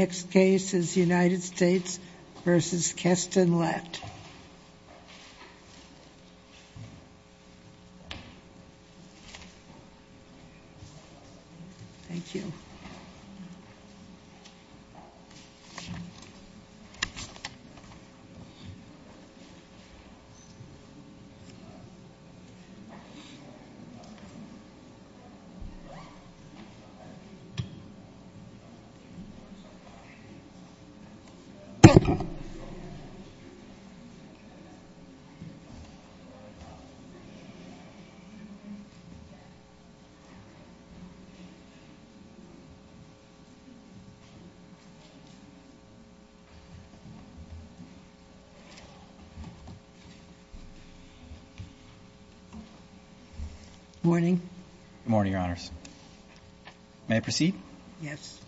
Next case is United States v. Keston-Lett. Thank you. Good morning, Your Honors. May I proceed? Yes.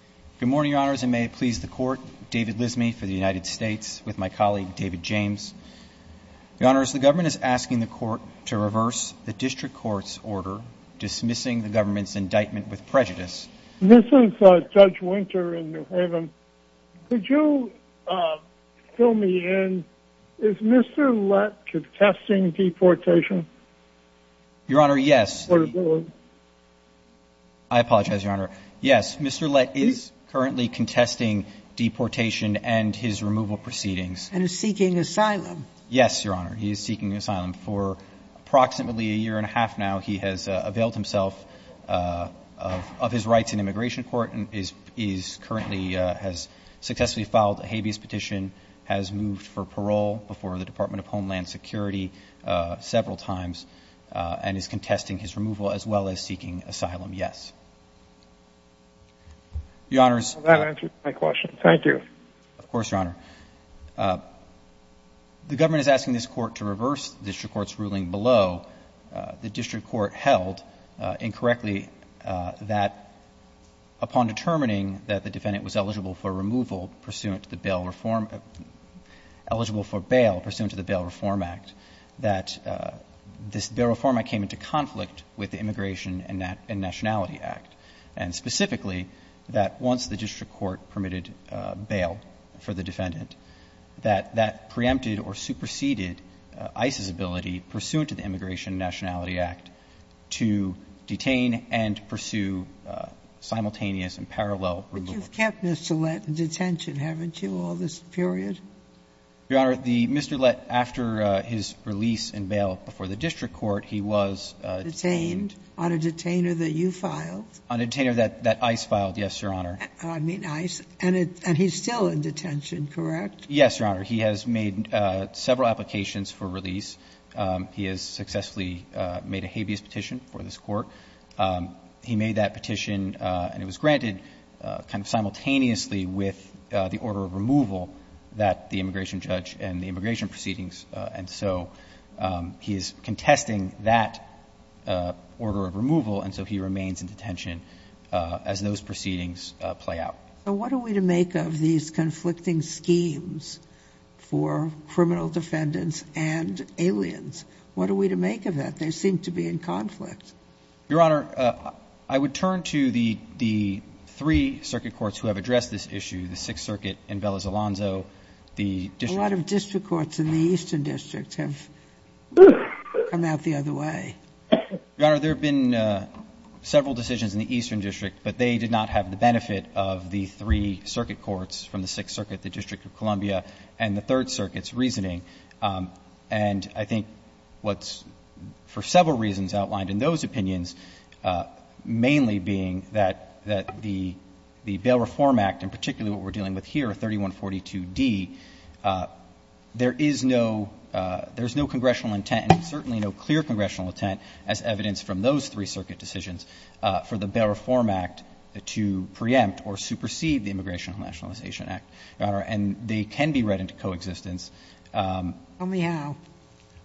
Good morning, Your Honors. And may it please the court, David Lismay for the United States with my colleague David James. Your Honors, the government is asking the court to reverse the district court's order dismissing the government's indictment with prejudice. This is Judge Winter in New Haven. Could you fill me in? Is Mr. Lett contesting deportation? Your Honor, yes. Portability? I apologize, Your Honor. Yes, Mr. Lett is currently contesting deportation and his removal proceedings. And is seeking asylum. Yes, Your Honor. He is seeking asylum for approximately a year and a half now. He has availed himself of his rights in immigration court and is currently has successfully filed a habeas petition, has moved for parole before the Department of Homeland Security several times, and is contesting his removal as well as seeking asylum, yes. Your Honors. That answers my question. Thank you. Of course, Your Honor. The government is asking this court to reverse the district court's ruling below the district court held incorrectly that upon determining that the defendant was eligible for removal pursuant to the Bail Reform Act, that this Bail Reform Act came into conflict with the Immigration and Nationality Act, and specifically that once the district court permitted bail for the defendant, that that preempted or superseded ICE's ability pursuant to the Immigration and Nationality Act to detain and pursue simultaneous and parallel removal. But you've kept Mr. Lett in detention, haven't you, all this period? Your Honor, the Mr. Lett, after his release in bail before the district court, he was detained. On a detainer that you filed? On a detainer that ICE filed, yes, Your Honor. I mean ICE. And he's still in detention, correct? Yes, Your Honor. He has made several applications for release. He has successfully made a habeas petition for this court. He made that petition, and it was granted kind of simultaneously with the order of removal that the immigration judge and the immigration proceedings. And so he is contesting that order of removal, and so he remains in detention as those proceedings play out. So what are we to make of these conflicting schemes for criminal defendants and aliens? What are we to make of that? They seem to be in conflict. Your Honor, I would turn to the three circuit courts who have addressed this issue, the Sixth Circuit in Bella Zalonzo, the district courts. A lot of district courts in the Eastern District have come out the other way. Your Honor, there have been several decisions in the Eastern District, but they did not have the benefit of the three circuit courts from the Sixth Circuit, the District of Columbia, and the Third Circuit's reasoning. And I think what's for several reasons outlined in those opinions, mainly being that the Bail Reform Act, and particularly what we're dealing with here, 3142d, there is no congressional intent, and certainly no clear congressional intent, as evidenced from those three circuit decisions, for the Bail Reform Act to preempt or supersede the Immigration and Nationalization Act. Your Honor, and they can be read into coexistence. Sotomayor.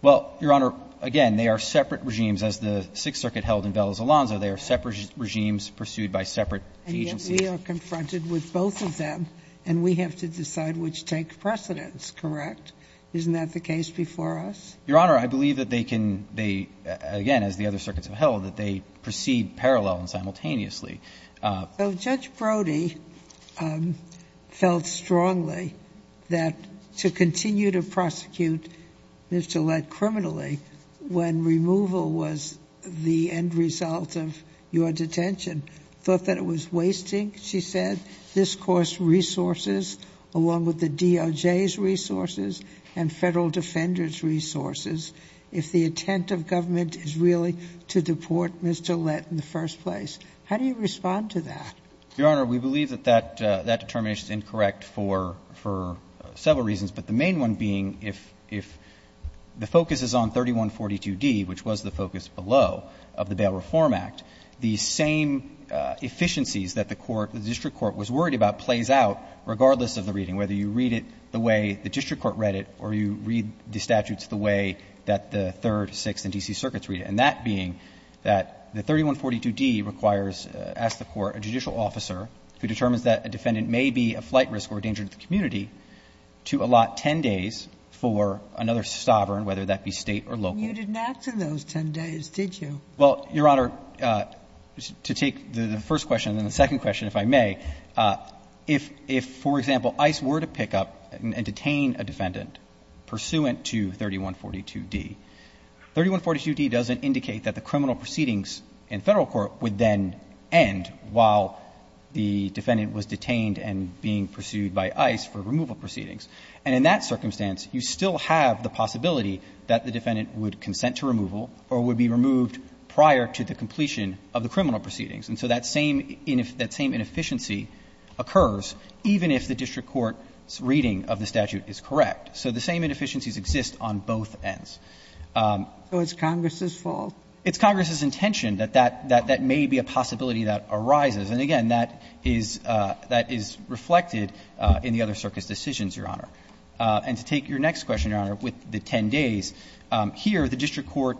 Well, Your Honor, again, they are separate regimes. As the Sixth Circuit held in Bella Zalonzo, they are separate regimes pursued by separate agencies. And yet we are confronted with both of them, and we have to decide which takes precedence. Correct? Isn't that the case before us? Your Honor, I believe that they can be, again, as the other circuits have held, that they proceed parallel and simultaneously. So Judge Brody felt strongly that to continue to prosecute Mr. Lett criminally when removal was the end result of your detention, thought that it was wasting, she said, this Court's resources, along with the DOJ's resources and Federal Defender's resources, if the intent of government is really to deport Mr. Lett in the first place. How do you respond to that? Your Honor, we believe that that determination is incorrect for several reasons, but the main one being if the focus is on 3142d, which was the focus below of the Bail Reform Act, the same efficiencies that the court, the district court, was worried about plays out regardless of the reading, whether you read it the way the district court read it or you read the statutes the way that the Third, Sixth, and D.C. circuits read it, and that being that the 3142d requires, asks the court, a judicial officer who determines that a defendant may be a flight risk or a danger to the community, to allot 10 days for another sovereign, whether that be State or local. You didn't act in those 10 days, did you? Well, Your Honor, to take the first question and the second question, if I may, if, for example, ICE were to pick up and detain a defendant pursuant to 3142d, 3142d doesn't indicate that the criminal proceedings in Federal court would then end while the defendant was detained and being pursued by ICE for removal proceedings. And in that circumstance, you still have the possibility that the defendant would consent to removal or would be removed prior to the completion of the criminal proceedings. And so that same inefficiency occurs even if the district court's reading of the statute is correct. So the same inefficiencies exist on both ends. So it's Congress's fault? It's Congress's intention that that may be a possibility that arises. And again, that is reflected in the other circuit's decisions, Your Honor. And to take your next question, Your Honor, with the 10 days, here the district court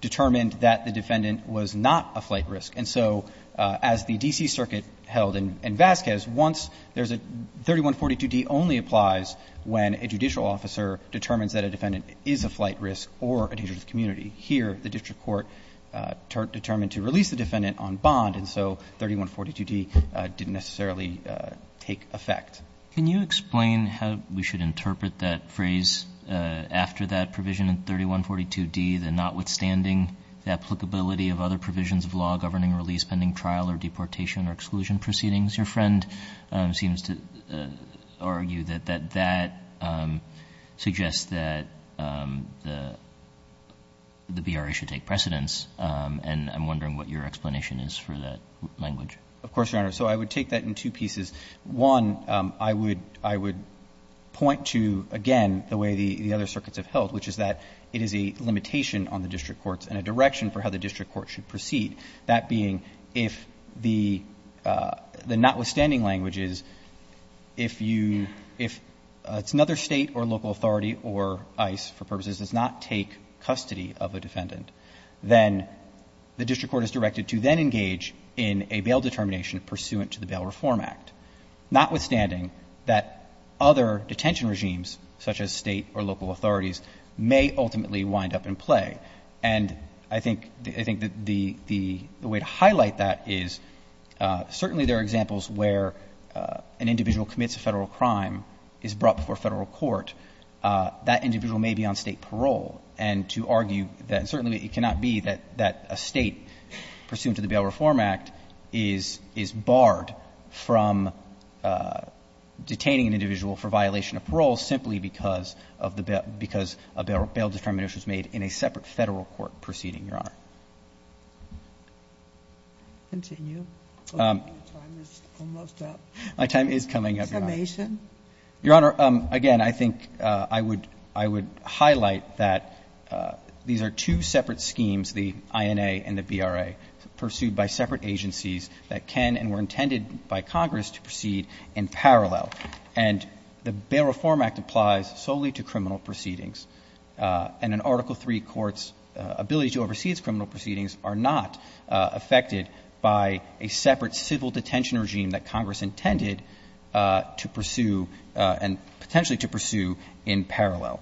determined that the defendant was not a flight risk. And so as the D.C. Circuit held in Vasquez, once there's a 3142d only applies when a judicial officer determines that a defendant is a flight risk or a danger to the community. Here the district court determined to release the defendant on bond, and so 3142d didn't necessarily take effect. Can you explain how we should interpret that phrase after that provision in 3142d, the notwithstanding the applicability of other provisions of law governing release pending trial or deportation or exclusion proceedings? Your friend seems to argue that that suggests that the BRA should take precedence. And I'm wondering what your explanation is for that language. Of course, Your Honor. So I would take that in two pieces. One, I would point to, again, the way the other circuits have held, which is that it is a limitation on the district courts and a direction for how the district court should proceed, that being if the notwithstanding language is, if you, if it's another State or local authority or ICE for purposes does not take custody of a defendant, then the district court is directed to then engage in a bail determination pursuant to the Bail Reform Act, notwithstanding that other detention regimes such as State or local authorities may ultimately wind up in play. And I think the way to highlight that is certainly there are examples where an individual commits a Federal crime, is brought before Federal court, that individual may be on State bail, but it cannot be that a State pursuant to the Bail Reform Act is barred from detaining an individual for violation of parole simply because of the bail, because a bail determination is made in a separate Federal court proceeding, Your Honor. Continue. My time is coming up. Summation? Your Honor, again, I think I would, I would highlight that these are two separate schemes, the INA and the BRA, pursued by separate agencies that can and were intended by Congress to proceed in parallel. And the Bail Reform Act applies solely to criminal proceedings. And an Article III court's ability to oversee its criminal proceedings are not affected by a separate civil detention regime that Congress intended to pursue and potentially to pursue in parallel.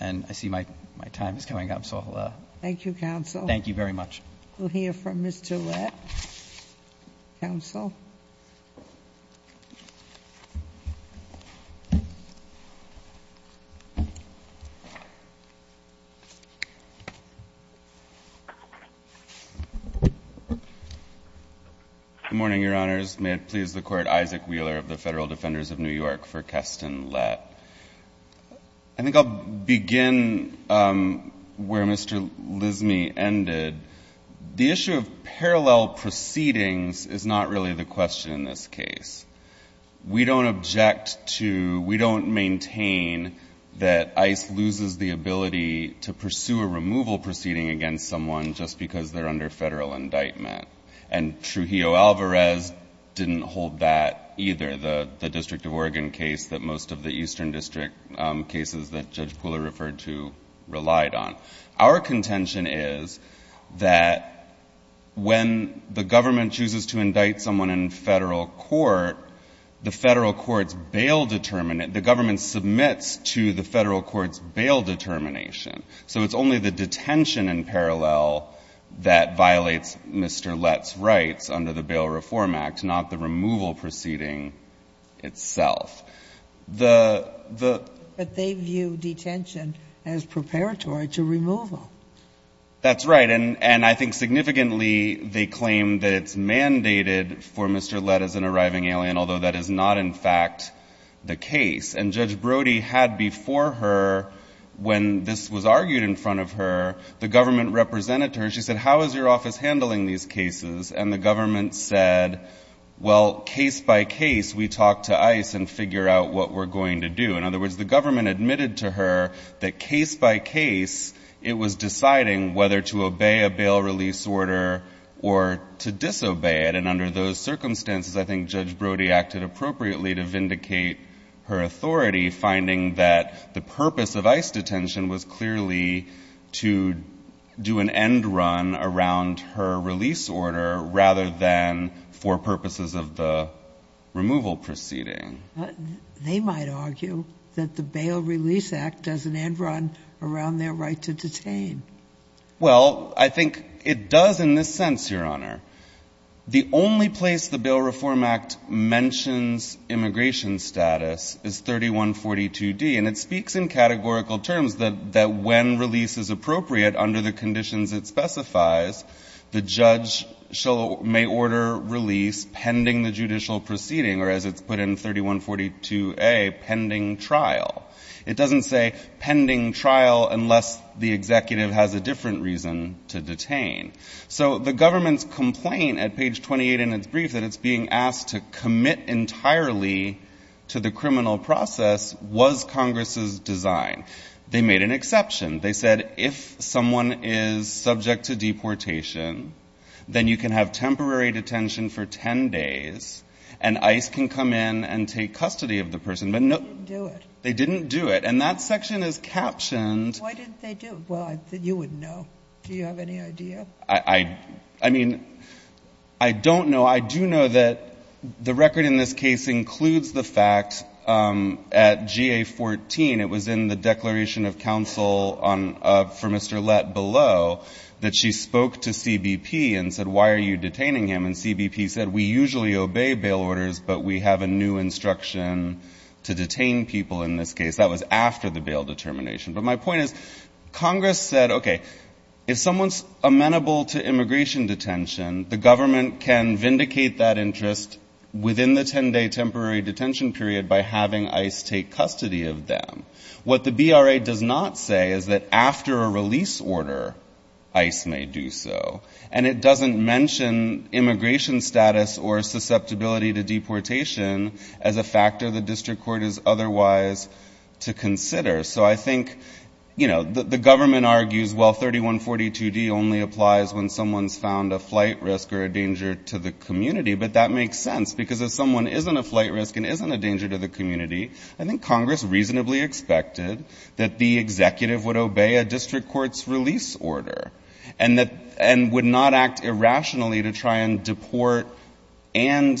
And I see my time is coming up, so I'll. Thank you, counsel. Thank you very much. We'll hear from Mr. Latt, counsel. Good morning, Your Honors. May it please the Court, Isaac Wheeler of the Federal Defenders of New York for Keston Latt. I think I'll begin where Mr. Lismy ended. The issue of parallel proceedings is not really the question in this case. We don't object to, we don't maintain that ICE loses the ability to pursue a removal proceeding against someone just because they're under federal indictment. And Trujillo-Alvarez didn't hold that either, the, the District of Oregon case that most of the Eastern District cases that Judge Pooler referred to relied on. Our contention is that when the government chooses to indict someone in federal court, the Federal court's bail determinant, the government submits to the Federal court's bail determination. So it's only the detention in parallel that violates Mr. Latt's rights under the Bail Reform Act, not the removal proceeding itself. The, the... But they view detention as preparatory to removal. That's right. And, and I think significantly they claim that it's mandated for Mr. Latt as an arriving alien, although that is not in fact the case. And Judge Brody had before her, when this was argued in front of her, the government represented her. She said, how is your office handling these cases? And the government said, well, case by case, we talk to ICE and figure out what we're going to do. In other words, the government admitted to her that case by case, it was deciding whether to obey a bail release order or to disobey it. And under those circumstances, I think Judge Brody acted appropriately to vindicate her authority, finding that the purpose of ICE detention was clearly to do an end run around her release order rather than for purposes of the removal proceeding. They might argue that the Bail Release Act does an end run around their right to detain. Well, I think it does in this sense, Your Honor. The only place the Bail Reform Act mentions immigration status is 3142D. And it speaks in categorical terms that, that when release is appropriate under the Bail Reform Act, the judge may order release pending the judicial proceeding, or as it's put in 3142A, pending trial. It doesn't say pending trial unless the executive has a different reason to detain. So the government's complaint at page 28 in its brief that it's being asked to commit entirely to the criminal process was Congress's design. They made an exception. They said if someone is subject to deportation, then you can have temporary detention for 10 days and ICE can come in and take custody of the person. But no. They didn't do it. They didn't do it. And that section is captioned. Why didn't they do it? Well, I think you would know. Do you have any idea? I, I, I mean, I don't know. I do know that the record in this case includes the fact at GA 14, it was in the for Mr. Lett below, that she spoke to CBP and said, why are you detaining him? And CBP said, we usually obey bail orders, but we have a new instruction to detain people in this case. That was after the bail determination. But my point is Congress said, okay, if someone's amenable to immigration detention, the government can vindicate that interest within the 10-day temporary detention period by having ICE take custody of them. What the BRA does not say is that after a release order, ICE may do so. And it doesn't mention immigration status or susceptibility to deportation as a factor the district court is otherwise to consider. So I think, you know, the government argues, well, 3142D only applies when someone's found a flight risk or a danger to the community. But that makes sense because if someone isn't a flight risk and isn't a danger to the community, I think Congress reasonably expected that the executive would obey a district court's release order and would not act irrationally to try and deport and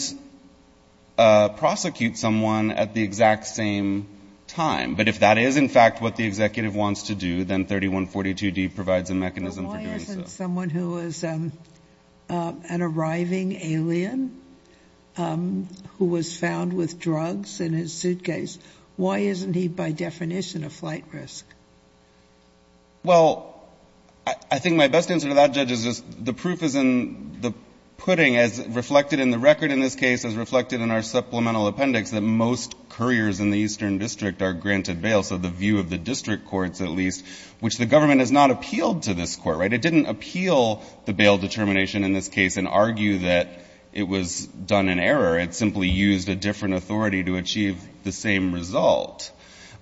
prosecute someone at the exact same time. But if that is, in fact, what the executive wants to do, then 3142D provides a mechanism for doing so. If someone who is an arriving alien who was found with drugs in his suitcase, why isn't he, by definition, a flight risk? Well, I think my best answer to that, Judge, is just the proof is in the pudding as reflected in the record in this case, as reflected in our supplemental appendix, that most couriers in the Eastern District are granted bail. So the view of the district courts, at least, which the government has not appealed to this court, right? To appeal the bail determination in this case and argue that it was done in error. It simply used a different authority to achieve the same result.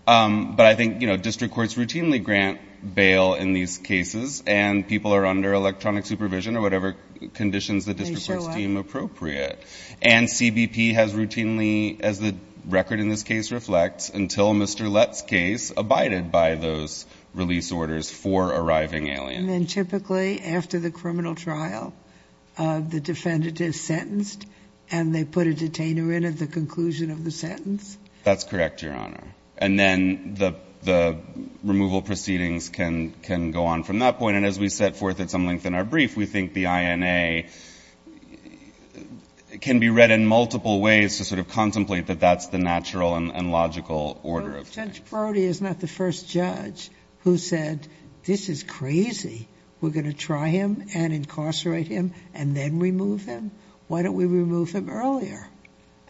But I think, you know, district courts routinely grant bail in these cases, and people are under electronic supervision or whatever conditions the district courts deem appropriate. And CBP has routinely, as the record in this case reflects, until Mr. Lett's case, abided by those release orders for arriving aliens. And then typically, after the criminal trial, the defendant is sentenced and they put a detainer in at the conclusion of the sentence? That's correct, Your Honor. And then the removal proceedings can go on from that point. And as we set forth at some length in our brief, we think the INA can be read in multiple ways to sort of contemplate that that's the natural and logical order of things. Judge Brody is not the first judge who said, this is crazy. We're going to try him and incarcerate him and then remove him? Why don't we remove him earlier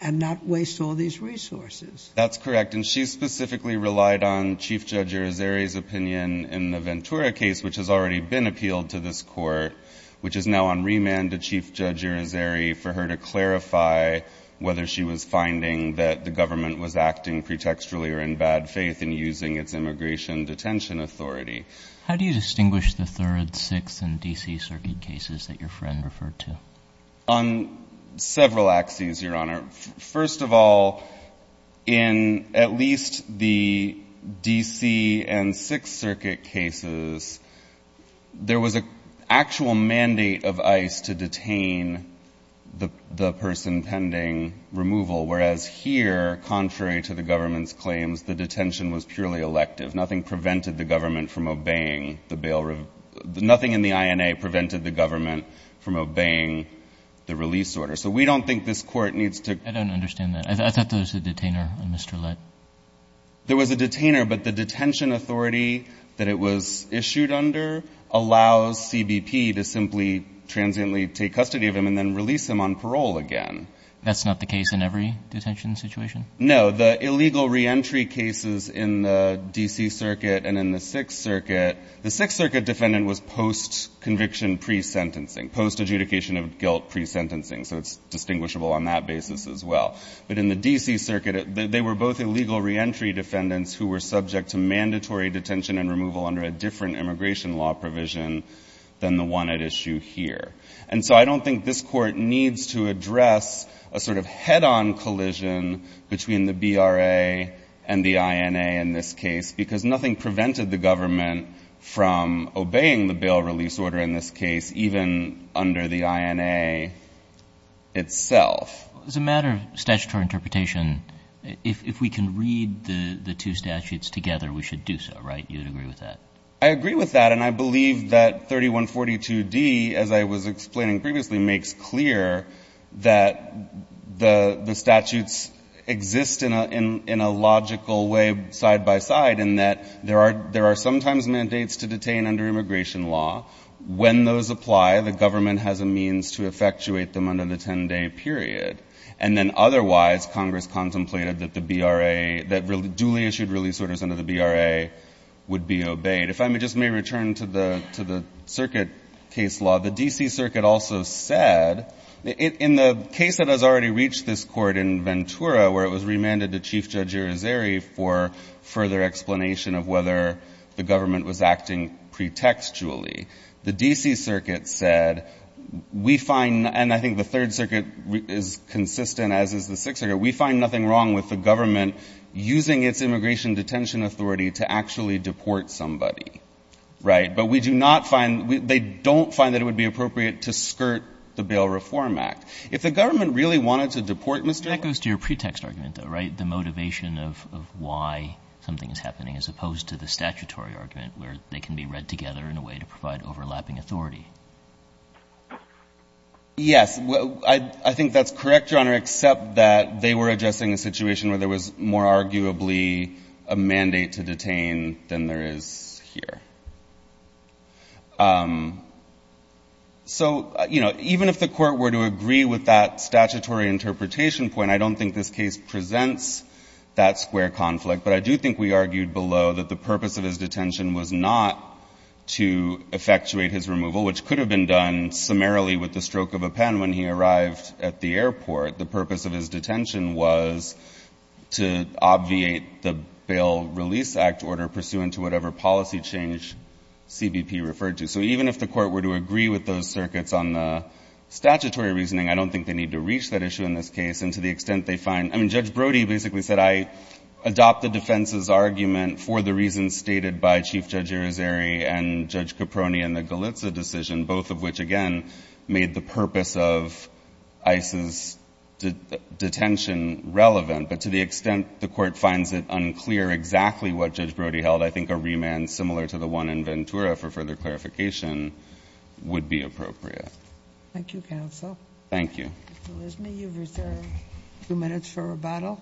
and not waste all these resources? That's correct. And she specifically relied on Chief Judge Urizeri's opinion in the Ventura case, which has already been appealed to this court, which is now on remand to Chief Judge Urizeri for her to clarify whether she was finding that the government was acting pretextually or in bad faith in using its immigration detention authority. How do you distinguish the Third, Sixth, and D.C. Circuit cases that your friend referred to? On several axes, Your Honor. First of all, in at least the D.C. and Sixth Circuit cases, there was an actual mandate of ICE to detain the person pending removal, whereas here, contrary to the government's claims, the detention was purely elective. Nothing prevented the government from obeying the bail – nothing in the INA prevented the government from obeying the release order. So we don't think this court needs to – I don't understand that. I thought there was a detainer in Mr. Lett. There was a detainer, but the detention authority that it was issued under allows CBP to simply transiently take custody of him and then release him on parole again. That's not the case in every detention situation? No. The illegal reentry cases in the D.C. Circuit and in the Sixth Circuit – the Sixth Circuit defendant was post-conviction pre-sentencing, post-adjudication of guilt pre-sentencing, so it's distinguishable on that basis as well. But in the D.C. Circuit, they were both illegal reentry defendants who were subject to mandatory detention and removal under a different immigration law provision than the one at issue here. And so I don't think this court needs to address a sort of head-on collision between the BRA and the INA in this case, because nothing prevented the government from obeying the bail release order in this case, even under the INA itself. As a matter of statutory interpretation, if we can read the two statutes together, we should do so, right? You would agree with that? I agree with that, and I believe that 3142D, as I was explaining previously, makes clear that the statutes exist in a logical way side by side in that there are sometimes mandates to detain under immigration law. When those apply, the government has a means to effectuate them under the 10-day period. And then otherwise, Congress contemplated that the BRA – that duly issued release orders under the BRA would be obeyed. If I just may return to the circuit case law, the D.C. Circuit also said – in the case that has already reached this court in Ventura, where it was remanded to Chief Judge Urizeri for further explanation of whether the government was acting pretextually, the D.C. Circuit said, we find – and I think the Third Circuit is consistent, as is the detention authority to actually deport somebody, right? But we do not find – they don't find that it would be appropriate to skirt the Bail Reform Act. If the government really wanted to deport Mr. — That goes to your pretext argument, though, right? The motivation of why something is happening, as opposed to the statutory argument where they can be read together in a way to provide overlapping authority. Yes. I think that's correct, Your Honor, except that they were addressing a situation where there was more arguably a mandate to detain than there is here. So, you know, even if the court were to agree with that statutory interpretation point, I don't think this case presents that square conflict. But I do think we argued below that the purpose of his detention was not to effectuate his removal, which could have been done summarily with the stroke of a pen when he arrived at the airport. The purpose of his detention was to obviate the Bail Release Act order pursuant to whatever policy change CBP referred to. So even if the court were to agree with those circuits on the statutory reasoning, I don't think they need to reach that issue in this case. And to the extent they find – I mean, Judge Brody basically said, I adopt the defense's argument for the reasons stated by Chief Judge Arizeri and Judge Brody, that the court finds that detention relevant. But to the extent the court finds it unclear exactly what Judge Brody held, I think a remand similar to the one in Ventura for further clarification would be appropriate. Thank you, counsel. Thank you. Mr. Lismy, you've reserved a few minutes for rebuttal.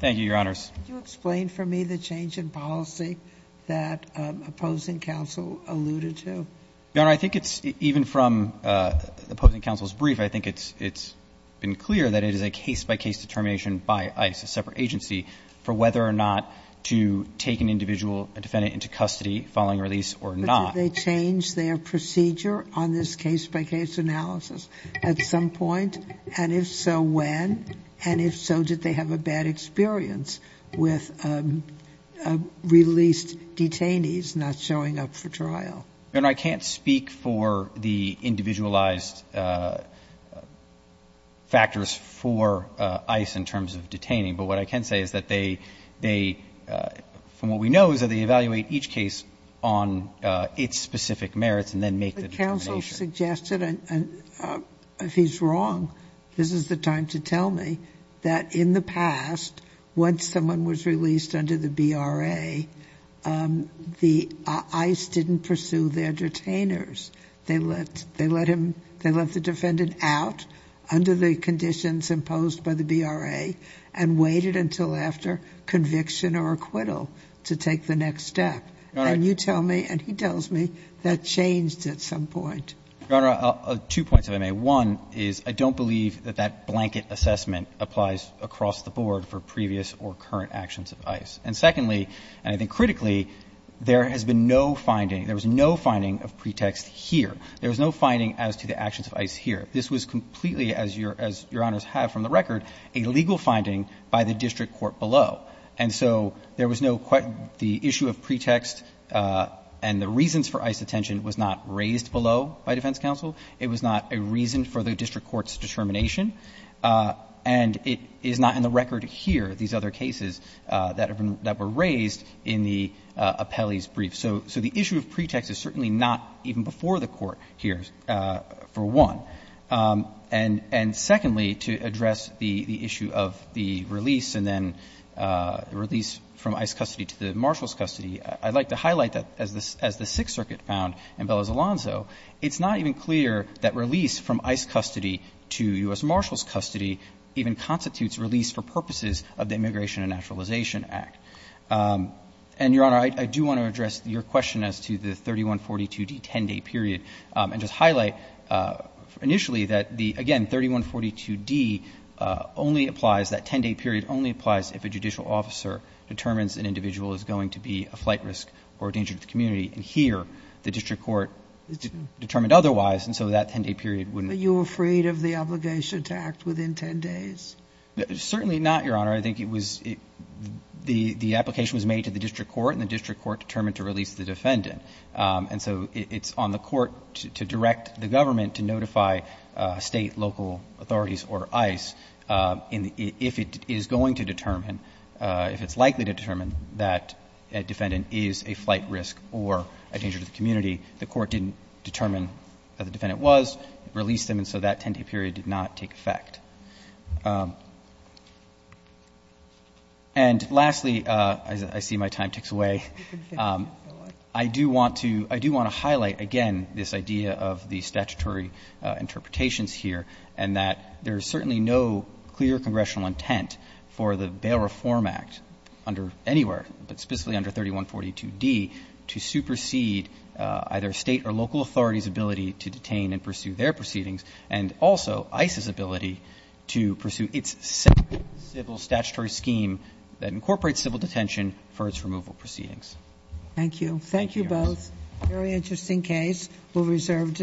Thank you, Your Honors. Can you explain for me the change in policy that opposing counsel alluded to? Your Honor, I think it's – even from opposing counsel's brief, I think it's been clear that it is a case-by-case determination by ICE, a separate agency, for whether or not to take an individual, a defendant, into custody following release or not. But did they change their procedure on this case-by-case analysis at some point? And if so, when? And if so, did they have a bad experience with released detainees not showing up for trial? Your Honor, I can't speak for the individualized factors for ICE in terms of detaining. But what I can say is that they – from what we know is that they evaluate each case on its specific merits and then make the determination. But counsel suggested, and if he's wrong, this is the time to tell me, that in the They let – they let him – they let the defendant out under the conditions imposed by the BRA and waited until after conviction or acquittal to take the next step. Your Honor – And you tell me and he tells me that changed at some point. Your Honor, two points if I may. One is I don't believe that that blanket assessment applies across the board for previous or current actions of ICE. And secondly, and I think critically, there has been no finding – there was no finding of pretext here. There was no finding as to the actions of ICE here. This was completely, as Your Honor's have from the record, a legal finding by the district court below. And so there was no – the issue of pretext and the reasons for ICE detention was not raised below by defense counsel. It was not a reason for the district court's determination. And it is not in the record here, these other cases that have been – that were raised in the appellee's brief. So the issue of pretext is certainly not even before the Court here, for one. And secondly, to address the issue of the release and then release from ICE custody to the Marshals' custody, I'd like to highlight that as the Sixth Circuit found in Bella Zalonzo, it's not even clear that release from ICE custody to U.S. Marshals' custody even constitutes release for purposes of the Immigration and Naturalization Act. And, Your Honor, I do want to address your question as to the 3142D 10-day period and just highlight initially that the – again, 3142D only applies – that 10-day period only applies if a judicial officer determines an individual is going to be a flight risk or a danger to the community. And here, the district court determined otherwise, and so that 10-day period wouldn't – Are you afraid of the obligation to act within 10 days? Certainly not, Your Honor. I think it was – the application was made to the district court, and the district court determined to release the defendant. And so it's on the court to direct the government to notify State, local authorities or ICE if it is going to determine – if it's likely to determine that a defendant is a flight risk or a danger to the community. The court didn't determine that the defendant was, released him, and so that 10-day period did not take effect. And lastly, as I see my time ticks away, I do want to – I do want to highlight again this idea of the statutory interpretations here and that there is certainly no clear congressional intent for the Bail Reform Act under anywhere, but specifically under 3142D, to supersede either State or local authorities' ability to detain and to pursue its separate civil statutory scheme that incorporates civil detention for its removal proceedings. Thank you. Thank you both. Thank you, Your Honor. Very interesting case. We'll reserve –